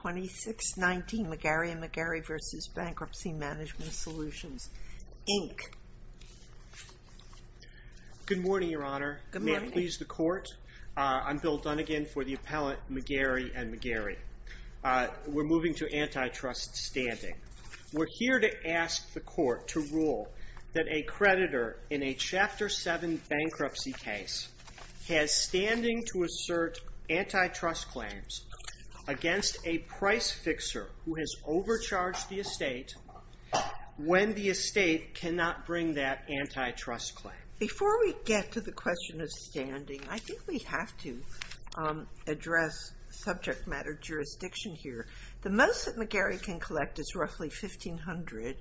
2619 McGarry & McGarry v. Bankruptcy Management Solutions, Inc. Good morning, Your Honor. May it please the Court? I'm Bill Dunnegan for the appellant McGarry & McGarry. We're moving to antitrust standing. We're here to ask the Court to rule that a creditor in a Chapter 7 bankruptcy case has standing to assert antitrust claims against a price fixer who has overcharged the estate when the estate cannot bring that antitrust claim. Before we get to the question of standing, I think we have to address subject matter jurisdiction here. The most that McGarry can collect is roughly $1,500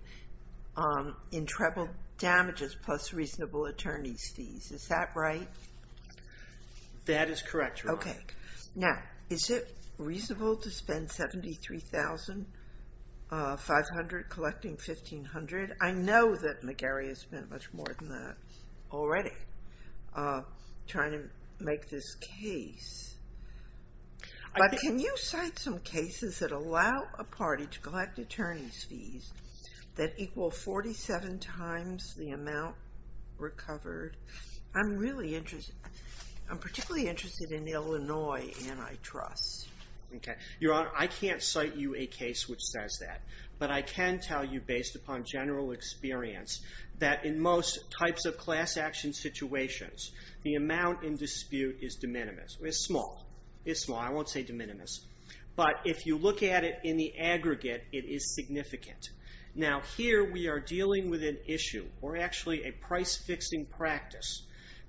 in treble damages plus reasonable attorney's fees. Is that right? That is correct, Your Honor. Okay. Now, is it reasonable to spend $73,500 collecting $1,500? I know that McGarry has spent much more than that already trying to make this case, but can you cite some cases that allow a party to collect attorney's fees that equal 47 times the amount recovered? I'm really interested. I'm particularly interested in Illinois antitrust. Okay. Your Honor, I can't cite you a case which says that, but I can tell you based upon general experience that in most types of class action situations, the amount in dispute is de minimis. It's small. It's small. I won't say de minimis, but if you look at it in the aggregate, it is significant. Now, here we are dealing with an issue, or actually a price-fixing practice,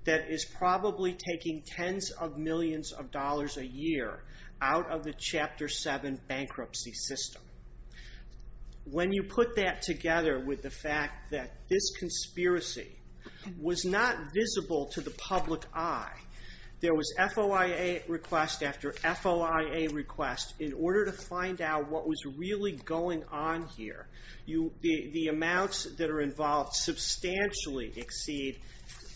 that is probably taking tens of millions of dollars a year out of the Chapter 7 bankruptcy system. When you put that together with the fact that this conspiracy was not visible to the public eye, there was FOIA request after FOIA request in order to make sure that the amounts that are involved substantially exceed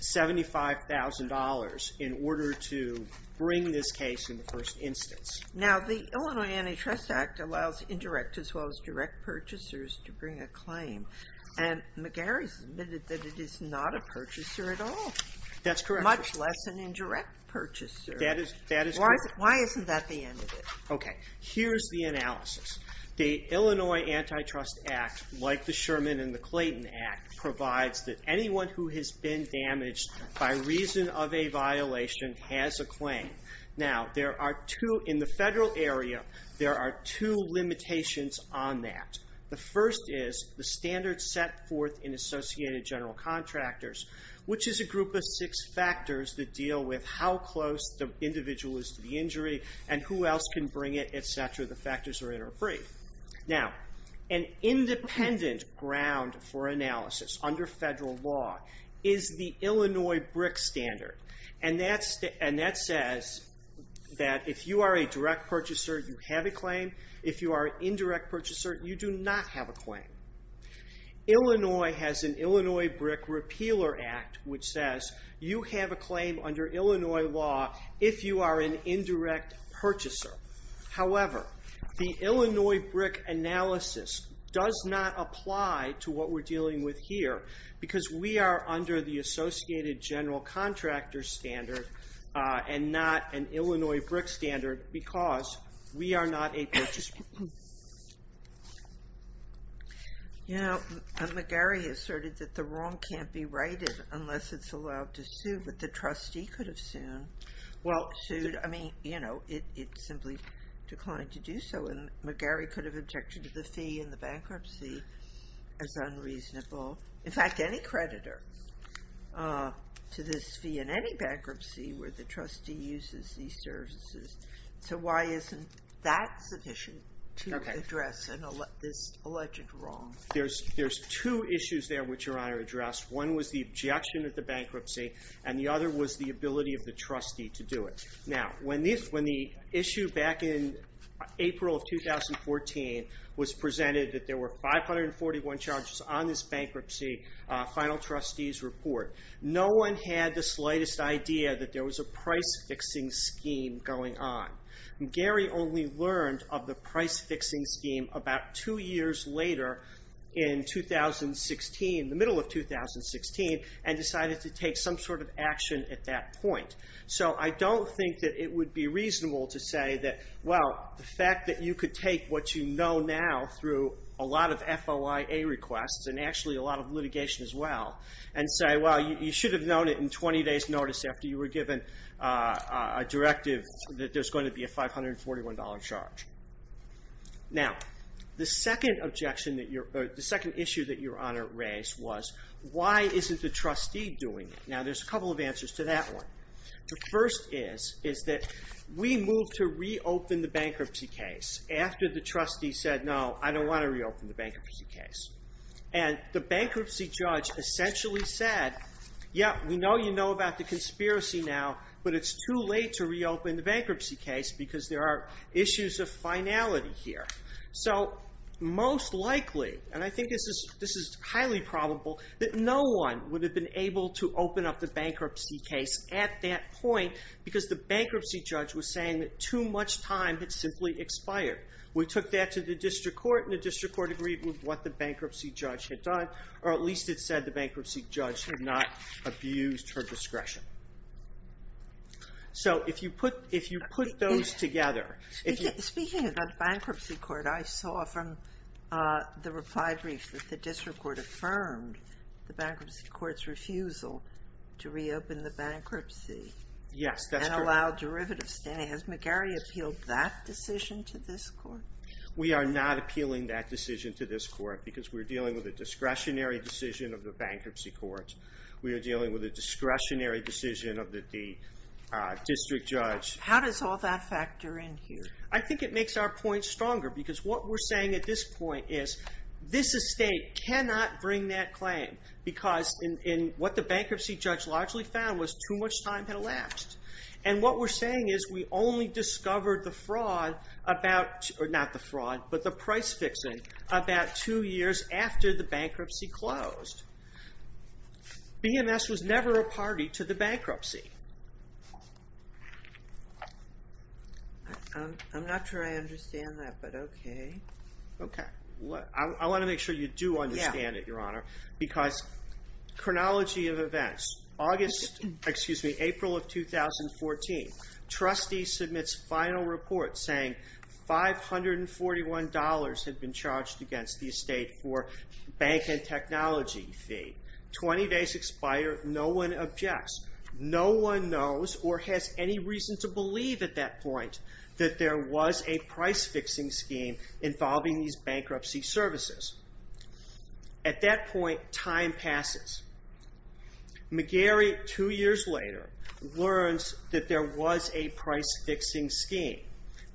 $75,000 in order to bring this case in the first instance. Now, the Illinois Antitrust Act allows indirect, as well as direct purchasers, to bring a claim, and McGarry's admitted that it is not a purchaser at all. That's correct. Much less an indirect purchaser. That is correct. Why isn't that the end of it? Okay. Here's the analysis. The Illinois Antitrust Act, like the Sherman and the Clayton Act, provides that anyone who has been damaged by reason of a violation has a claim. Now, there are two, in the federal area, there are two limitations on that. The first is the standards set forth in Associated General Contractors, which is a group of six factors that deal with how close the individual is to the intended ground for analysis under federal law, is the Illinois BRIC standard. And that says that if you are a direct purchaser, you have a claim. If you are an indirect purchaser, you do not have a claim. Illinois has an Illinois BRIC Repealer Act, which says you have a claim under Illinois law if you are an indirect purchaser. However, the Illinois BRIC analysis does not apply to what we're dealing with here because we are under the Associated General Contractors standard and not an Illinois BRIC standard because we are not a purchaser. You know, McGarry asserted that the wrong can't be righted unless it's allowed to sue, but the trustee could have sued. I mean, you know, it simply declined to do so and McGarry could have objected to the fee in the bankruptcy as unreasonable. In fact, any creditor to this fee in any bankruptcy where the trustee uses these services. So why isn't that sufficient to address this alleged wrong? There's two issues there which Your Honor addressed. One was the objection of the bankruptcy and the other was the ability of the trustee to do it. Now, when the issue back in April of 2014 was presented that there were 541 charges on this bankruptcy, final trustees report, no one had the slightest idea that there was a price fixing scheme going on. McGarry only learned of the price fixing scheme about two years later in 2016, the middle of 2016, and decided to take some sort of action at that point. So I don't think that it would be reasonable to say that, well, the fact that you could take what you know now through a lot of FOIA requests and actually a lot of litigation as well and say, well, you should have known it in 20 days' notice after you were given a directive that there's going to be a $541 charge. Now, the second objection that Your Honor raised was why isn't the trustee doing it? Now, there's a couple of answers to that one. The first is that we moved to reopen the bankruptcy case after the trustee said, no, I don't want to reopen the bankruptcy case. And the bankruptcy judge essentially said, yeah, we know you know about the conspiracy now, but it's too late to reopen the bankruptcy case because there are issues of finality here. So most likely, and I think this is highly probable, that no one would have been able to open up the bankruptcy case at that point because the bankruptcy judge was saying that too much time had simply expired. We took that to the district court, and the district court agreed with what the bankruptcy judge had done, or at least it said the bankruptcy judge had not abused her discretion. So if you put those together... Speaking about the bankruptcy court, I saw from the reply brief that the district court confirmed the bankruptcy court's refusal to reopen the bankruptcy. Yes, that's correct. And allow derivative standing. Has McGarry appealed that decision to this court? We are not appealing that decision to this court because we're dealing with a discretionary decision of the bankruptcy court. We are dealing with a discretionary decision of the district judge. How does all that factor in here? I think it makes our point stronger because what we're saying at this point is this estate cannot bring that claim because what the bankruptcy judge largely found was too much time had elapsed. And what we're saying is we only discovered the fraud, not the fraud, but the price fixing about two years after the bankruptcy closed. BMS was never a party to the bankruptcy. I'm not sure I understand that, but okay. I want to make sure you do understand it, Your Honor. Because chronology of events. April of 2014. Trustee submits final report saying $541 had been charged against the estate for bank and technology fee. 20 days expired. No one objects. No one knows or has any reason to believe at that point that there was a price fixing scheme involving these bankruptcy services. At that point, time passes. McGarry, two years later, learns that there was a price fixing scheme.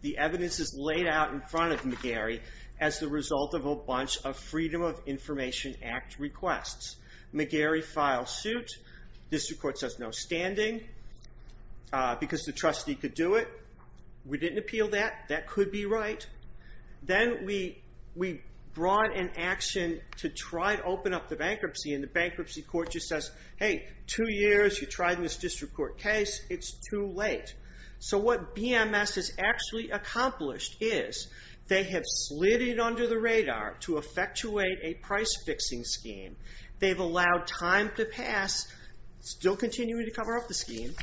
The evidence is laid out in front of McGarry as the result of a bunch of Freedom of Information Act requests. McGarry files suit. District Court says no standing because the trustee could do it. We didn't appeal that. That could be right. Then we brought an action to try to open up the bankruptcy and the bankruptcy court just says, hey, two years. You tried in this district court case. It's too late. So what BMS has actually accomplished is they have slid it under the radar to effectuate a price fixing scheme. They've allowed time to pass. Still continuing to cover up the scheme.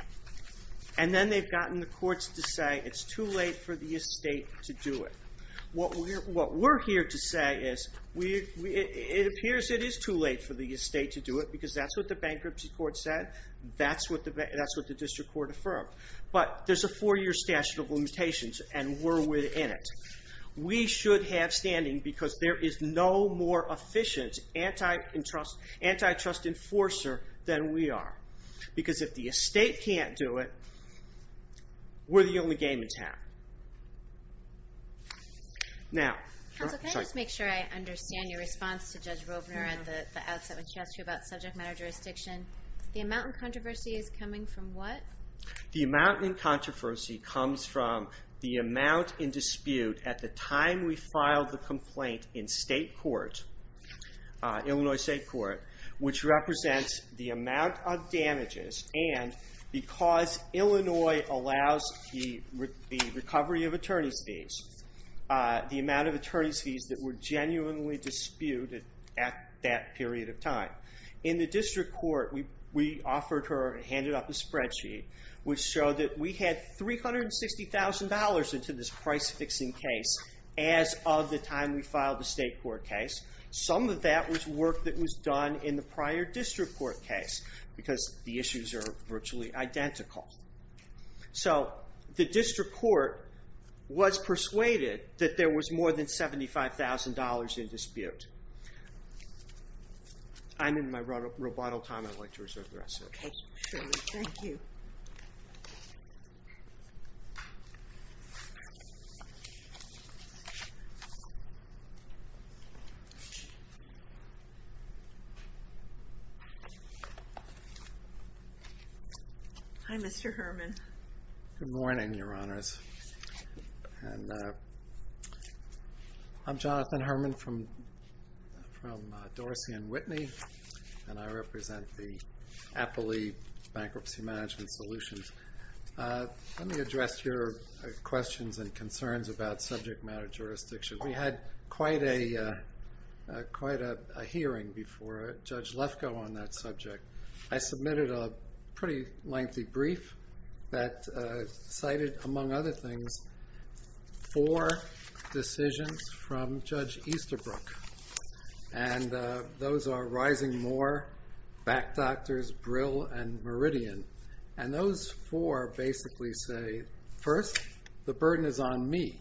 And then they've gotten the courts to say it's too late for the estate to do it. What we're here to say is it appears it is too late for the estate to do it because that's what the bankruptcy court said. That's what the district court affirmed. But there's a four year statute of limitations and we're within it. We should have standing because there is no more efficient antitrust enforcer than we are. Because if the estate can't do it, we're the only game in town. Can I just make sure I understand your response to Judge Robner at the outset when she asked you about subject matter jurisdiction? The amount in controversy is coming from what? The amount in controversy comes from the amount in dispute at the time we filed the complaint in Illinois State Court which represents the amount of damages and because Illinois allows the recovery of attorney's fees the amount of attorney's fees that were genuinely disputed at that period of time. In the district court we offered her and handed up a spreadsheet which showed that we Some of that was work that was done in the prior district court case because the issues are virtually identical. So the district court was persuaded that there was more than $75,000 in dispute. Hi, Mr. Herman. Good morning, Your Honors. I'm Jonathan Herman from Dorsey & Whitney and I represent the Appley Bankruptcy Management Solutions. Let me address your questions and concerns about subject matter jurisdiction. We had quite a hearing before Judge Lefkoe on that subject. I submitted a pretty lengthy brief that cited, among other things, four decisions from Judge Easterbrook and those are Rising Moore, Back Doctors, Brill, and Meridian. And those four basically say, first, the burden is on me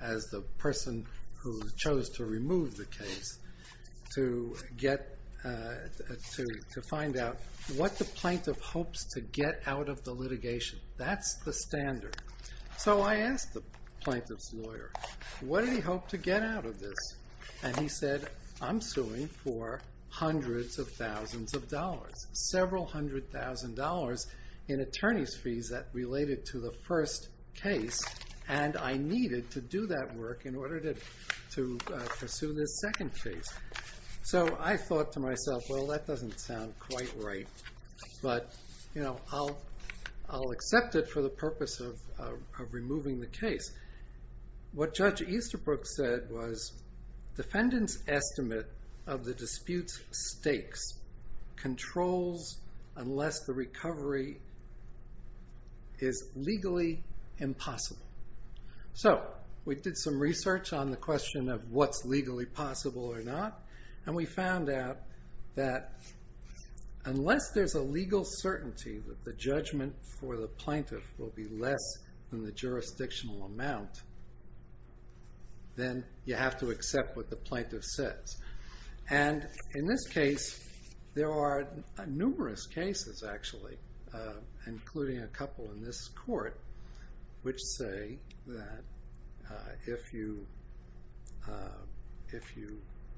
as the person who chose to remove the case to find out what the plaintiff hopes to get out of the litigation. That's the standard. So I asked the plaintiff's lawyer, what did he hope to get out of this? And he said, I'm suing for hundreds of thousands of dollars. Several hundred thousand dollars in attorney's fees that related to the first case and I needed to do that work in order to pursue this second case. So I thought to myself, well that doesn't sound quite right, but I'll accept it for the purpose of removing the case. What Judge Easterbrook said was defendant's estimate of the dispute's stakes controls unless the recovery is legally impossible. So we did some research on the question of what's legally possible or not and we found out that unless there's a legal certainty that the judgment for the plaintiff will be less than the jurisdictional amount, then you have to accept what the plaintiff says. And in this case, there are numerous cases actually, including a couple in this court, which say that if you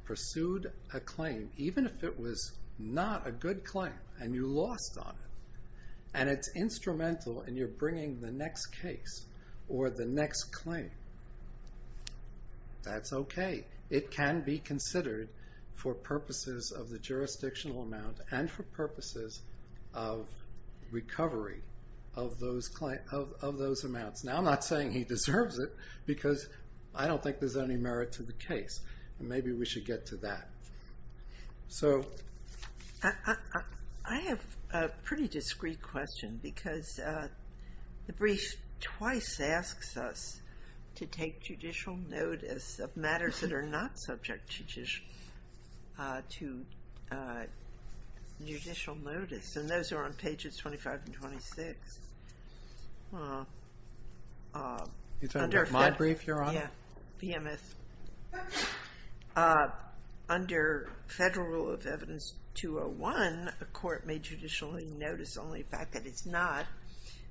pursued a claim, even if it was not a good claim and you lost on it, and it's instrumental and you're bringing the next case or the next claim, that's okay. It can be considered for purposes of the jurisdictional amount and for purposes of recovery of those amounts. Now I'm not saying he deserves it, because I don't think there's any merit to the case. Maybe we should get to that. I have a pretty discreet question, because the brief twice asks us to take judicial notice of matters that are not subject to judicial notice. And those are on pages 25 and 26. Is that my brief, Your Honor? Yeah. Under Federal Rule of Evidence 201, a court may judicially notice only a fact that it's not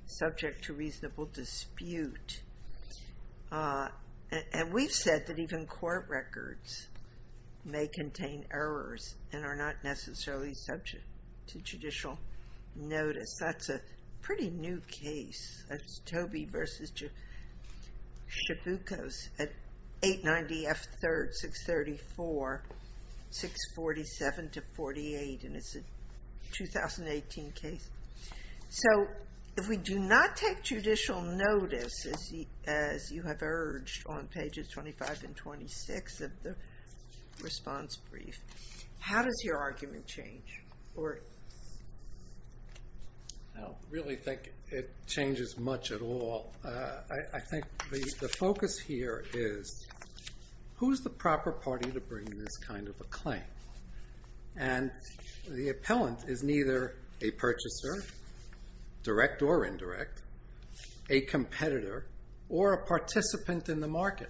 subject to reasonable dispute. And we've said that even court records may contain errors and are not necessarily subject to judicial notice. That's a pretty new case. That's Tobey v. Chaboukos at 890 F. 3rd, 634, 647 to 48, and it's a 2018 case. So if we do not take judicial notice, as you have urged on pages 25 and 26 of the response brief, how does your argument change? I don't really think it changes much at all. I think the focus here is who's the proper party to bring this kind of a claim. And the appellant is neither a purchaser, direct or indirect, a competitor, or a participant in the market.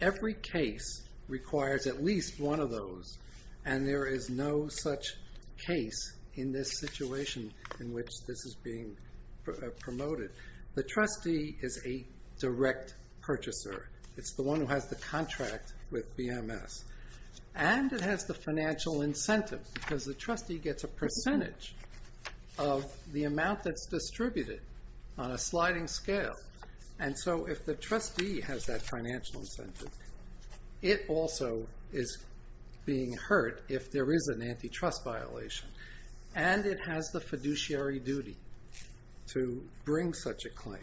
Every case requires at least one of those, and there is no such case in this situation in which this is being promoted. The trustee is a direct purchaser. It's the one who has the contract with BMS. And it has the financial incentive, because the trustee gets a percentage of the amount that's distributed on a sliding scale. And so if the trustee has that financial incentive, it also is being hurt if there is an antitrust violation. And it has the fiduciary duty to bring such a claim.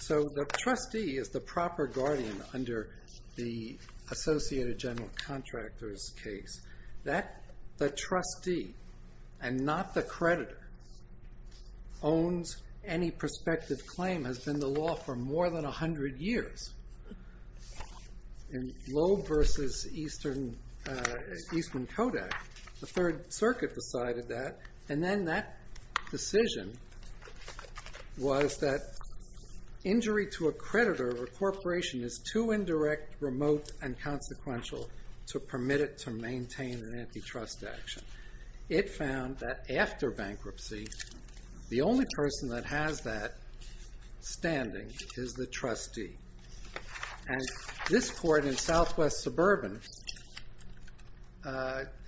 So the trustee is the proper guardian under the Associated General Contractors case. That the trustee, and not the creditor, owns any prospective claim has been the law for more than 100 years. In Loeb versus Eastern Kodak, the Third Circuit decided that. And then that decision was that injury to a creditor of a corporation is too indirect, remote, and consequential to permit it to maintain an antitrust action. It found that after bankruptcy the only person that has that standing is the trustee. And this court in Southwest Suburban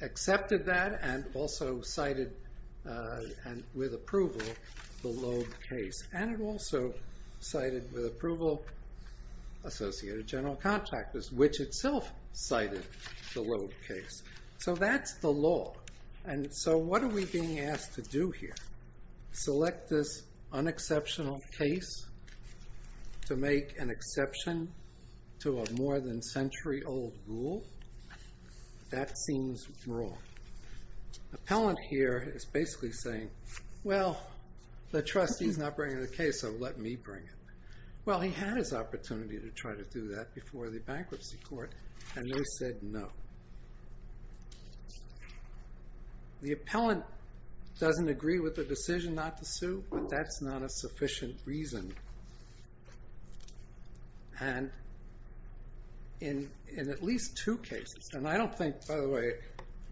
accepted that and also cited with approval the Loeb case. And it also cited with approval Associated General Contractors, which itself cited the Loeb case. So that's the law. And so what are we being asked to do here? Select this unexceptional case to make an exception to a more than century old rule? That seems wrong. Appellant here is basically saying, well, the trustee's not bringing the case, so let me bring it. Well, he had his opportunity to try to do that before the bankruptcy court, and they said no. The appellant doesn't agree with the decision not to sue, but that's not a sufficient reason. And in at least two cases, and I don't think, by the way,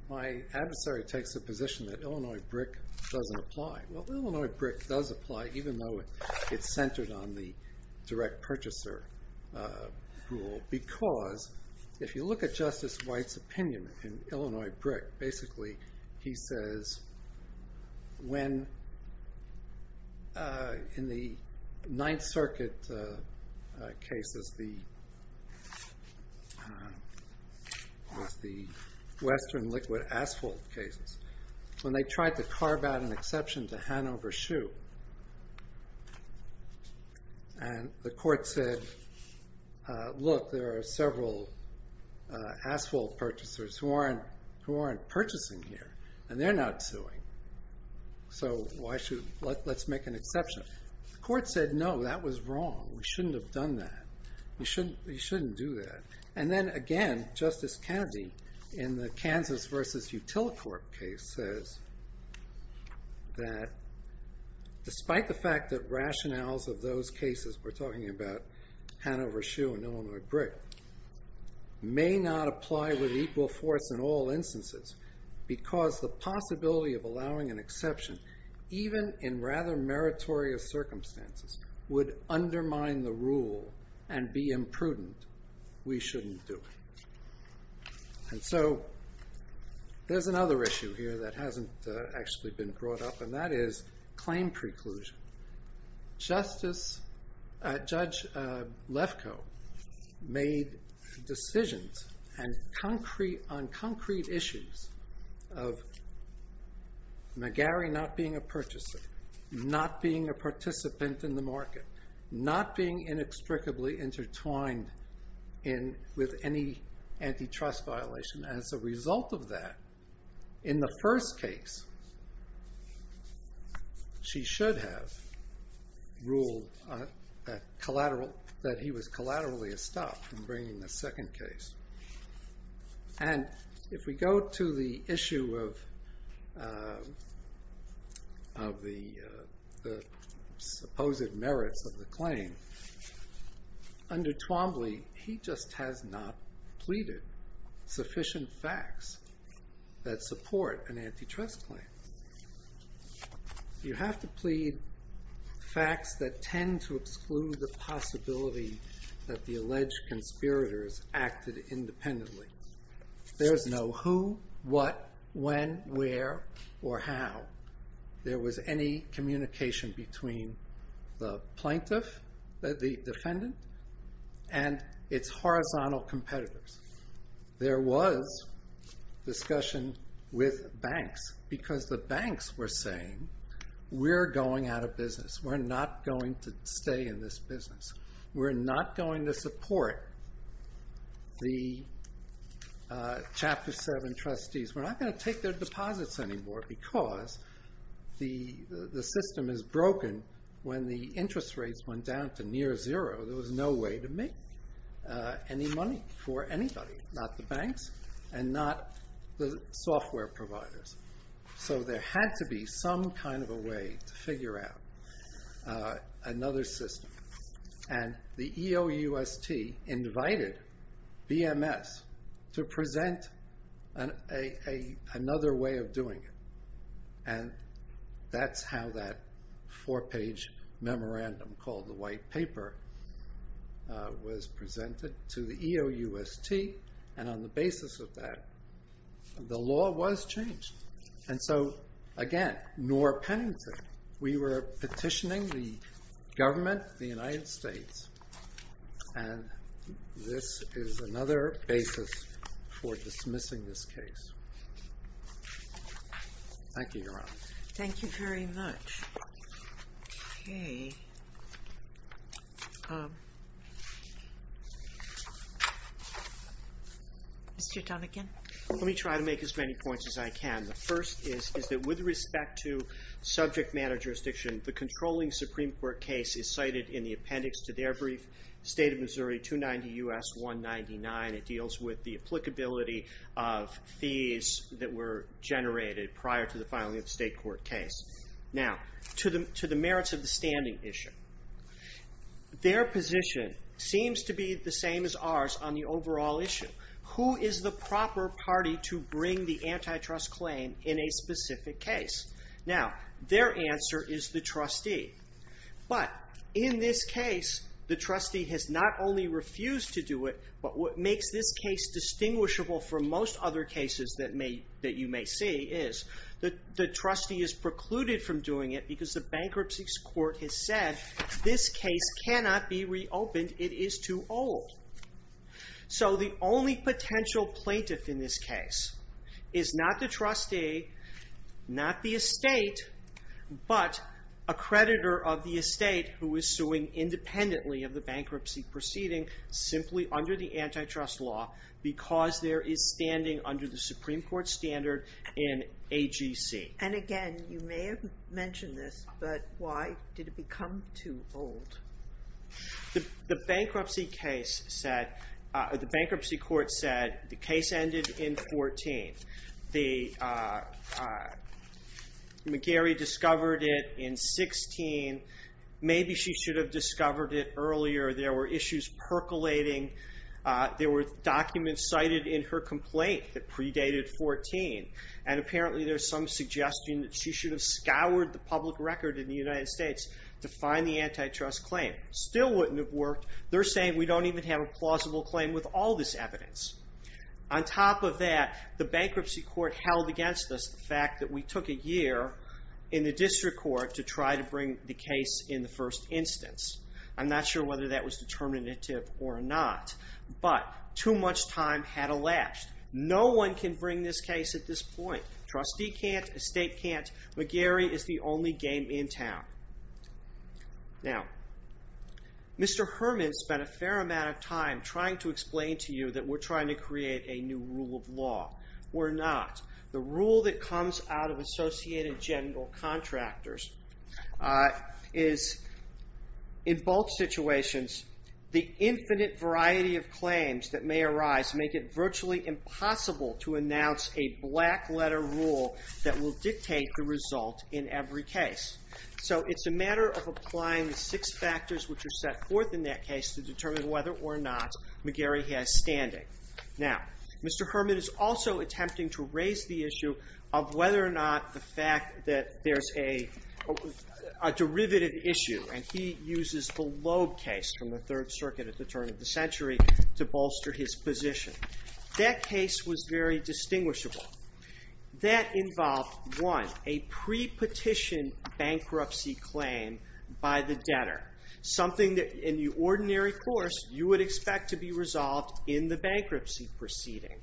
my adversary takes the position that Illinois BRIC doesn't apply. Well, Illinois BRIC does apply, even though it's centered on the direct purchaser rule, because if you look at Justice White's opinion in Illinois BRIC, basically he says, when in the Ninth Circuit case, the Western Liquid Asphalt cases, when they tried to carve out an exception to Hanover Shoe, and the court said, look, there are several asphalt purchasers who aren't purchasing here, and they're not suing. So let's make an exception. The court said, no, that was wrong. We shouldn't have done that. We shouldn't do that. And then again, Justice Kennedy, in the Kansas v. Utilicorp case, says that despite the fact that rationales of those cases, we're talking about Hanover Shoe and Illinois BRIC, may not apply with equal force in all instances, because the possibility of allowing an exception, even in rather meritorious circumstances, would undermine the rule and be imprudent. We shouldn't do it. And so there's another issue here that hasn't actually been brought up, and that is claim preclusion. Judge Lefkoe made decisions on concrete issues of McGarry not being a purchaser, not being a participant in the market, not being inextricably intertwined with any antitrust violation. As a result of that, in the first case, she should have ruled that he was collaterally estopped in bringing the second case. And if we go to the issue of the supposed merits of the claim, under Twombly, he just has not pleaded sufficient facts that support an antitrust claim. You have to plead facts that tend to exclude the possibility that the alleged conspirators acted independently. There's no who, what, when, where, or how. There was any communication between the plaintiff, the defendant, and its horizontal competitors. There was discussion with banks, because the banks were saying, we're going out of business. We're not going to stay in this business. We're not going to support the Chapter 7 trustees. We're not going to take their deposits anymore, because the system is broken. When the interest rates went down to near zero, there was no way to make any money for anybody. Not the banks, and not the software providers. So there had to be some kind of a way to figure out another system. And the EOUST invited BMS to present another way of doing it. And that's how that four-page memorandum called the White Paper was presented to the EOUST. And on the basis of that, the law was changed. And so, again, Nora Pennington, we were petitioning the government of the United States, and this is another basis for dismissing this case. Thank you, Your Honor. Thank you very much. Okay. Mr. Donegan? Let me try to make as many points as I can. The first is that with respect to subject matter jurisdiction, the controlling Supreme Court case is cited in the appendix to their brief State of Missouri 290 U.S. 199. It deals with the applicability of fees that were Their position seems to be the same as ours on the overall issue. Who is the proper party to bring the antitrust claim in a specific case? Now, their answer is the trustee. But in this case, the trustee has not only refused to do it, but what makes this case distinguishable from most other cases that you may see is that the trustee is precluded from doing it because the bankruptcy court has said this case cannot be reopened. It is too old. So the only potential plaintiff in this case is not the trustee, not the estate, but a creditor of the estate who is suing independently of the bankruptcy proceeding simply under the antitrust law because there is standing under the Supreme Court standard in AGC. And again, you may have mentioned this, but why did it become too old? The bankruptcy court said the case ended in 14. McGarry discovered it in There were documents cited in her complaint that predated 14. And apparently there is some suggestion that she should have scoured the public record in the United States to find the antitrust claim. Still wouldn't have worked. They're saying we don't even have a plausible claim with all this evidence. On top of that, the bankruptcy court held against us the fact that we took a year in the district court to try to bring the case in the first instance. I'm not sure whether that was determinative or not. But too much time had elapsed. No one can bring this case at this point. Trustee can't. Estate can't. McGarry is the only game in town. Mr. Herman spent a fair amount of time trying to explain to you that we're trying to create a new rule of is, in both situations, the infinite variety of claims that may arise make it virtually impossible to announce a black letter rule that will dictate the result in every case. So it's a matter of applying the six factors which are set forth in that case to determine whether or not McGarry has standing. Now, Mr. Herman is also attempting to raise the issue of whether or not the fact that there's a derivative issue, and he uses the Loeb case from the Third Circuit at the turn of the century to bolster his position. That case was very distinguishable. That involved, one, a pre-petition bankruptcy claim by the debtor, something that in the ordinary course you would expect to be resolved in the bankruptcy proceeding.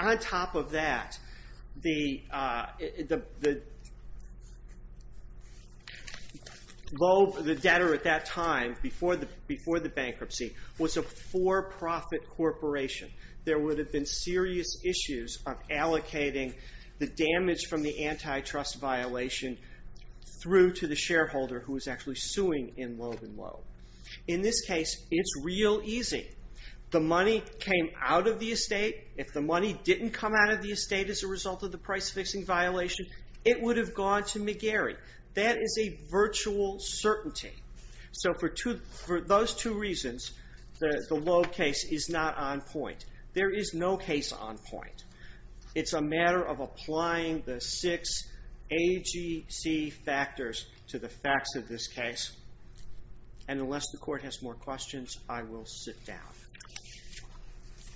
On top of that, the debtor at that time, before the bankruptcy, was a for-profit corporation. There would have been serious issues of allocating the damage from the antitrust violation through to the shareholder who was actually suing in Loeb and Loeb. In this case, it's real easy. The money came out of the estate. If the money didn't come out of the estate as a result of the price-fixing violation, it would have gone to McGarry. That is a virtual certainty. So for those two reasons, the Loeb case is not on point. There is no case on point. It's a matter of applying the six AGC factors to the facts of this case. And unless the Court has more questions, I will sit down.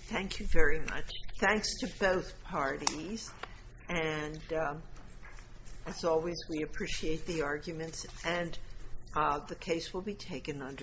Thank you very much. Thanks to both parties. And as always, we appreciate the arguments, and the case will be taken under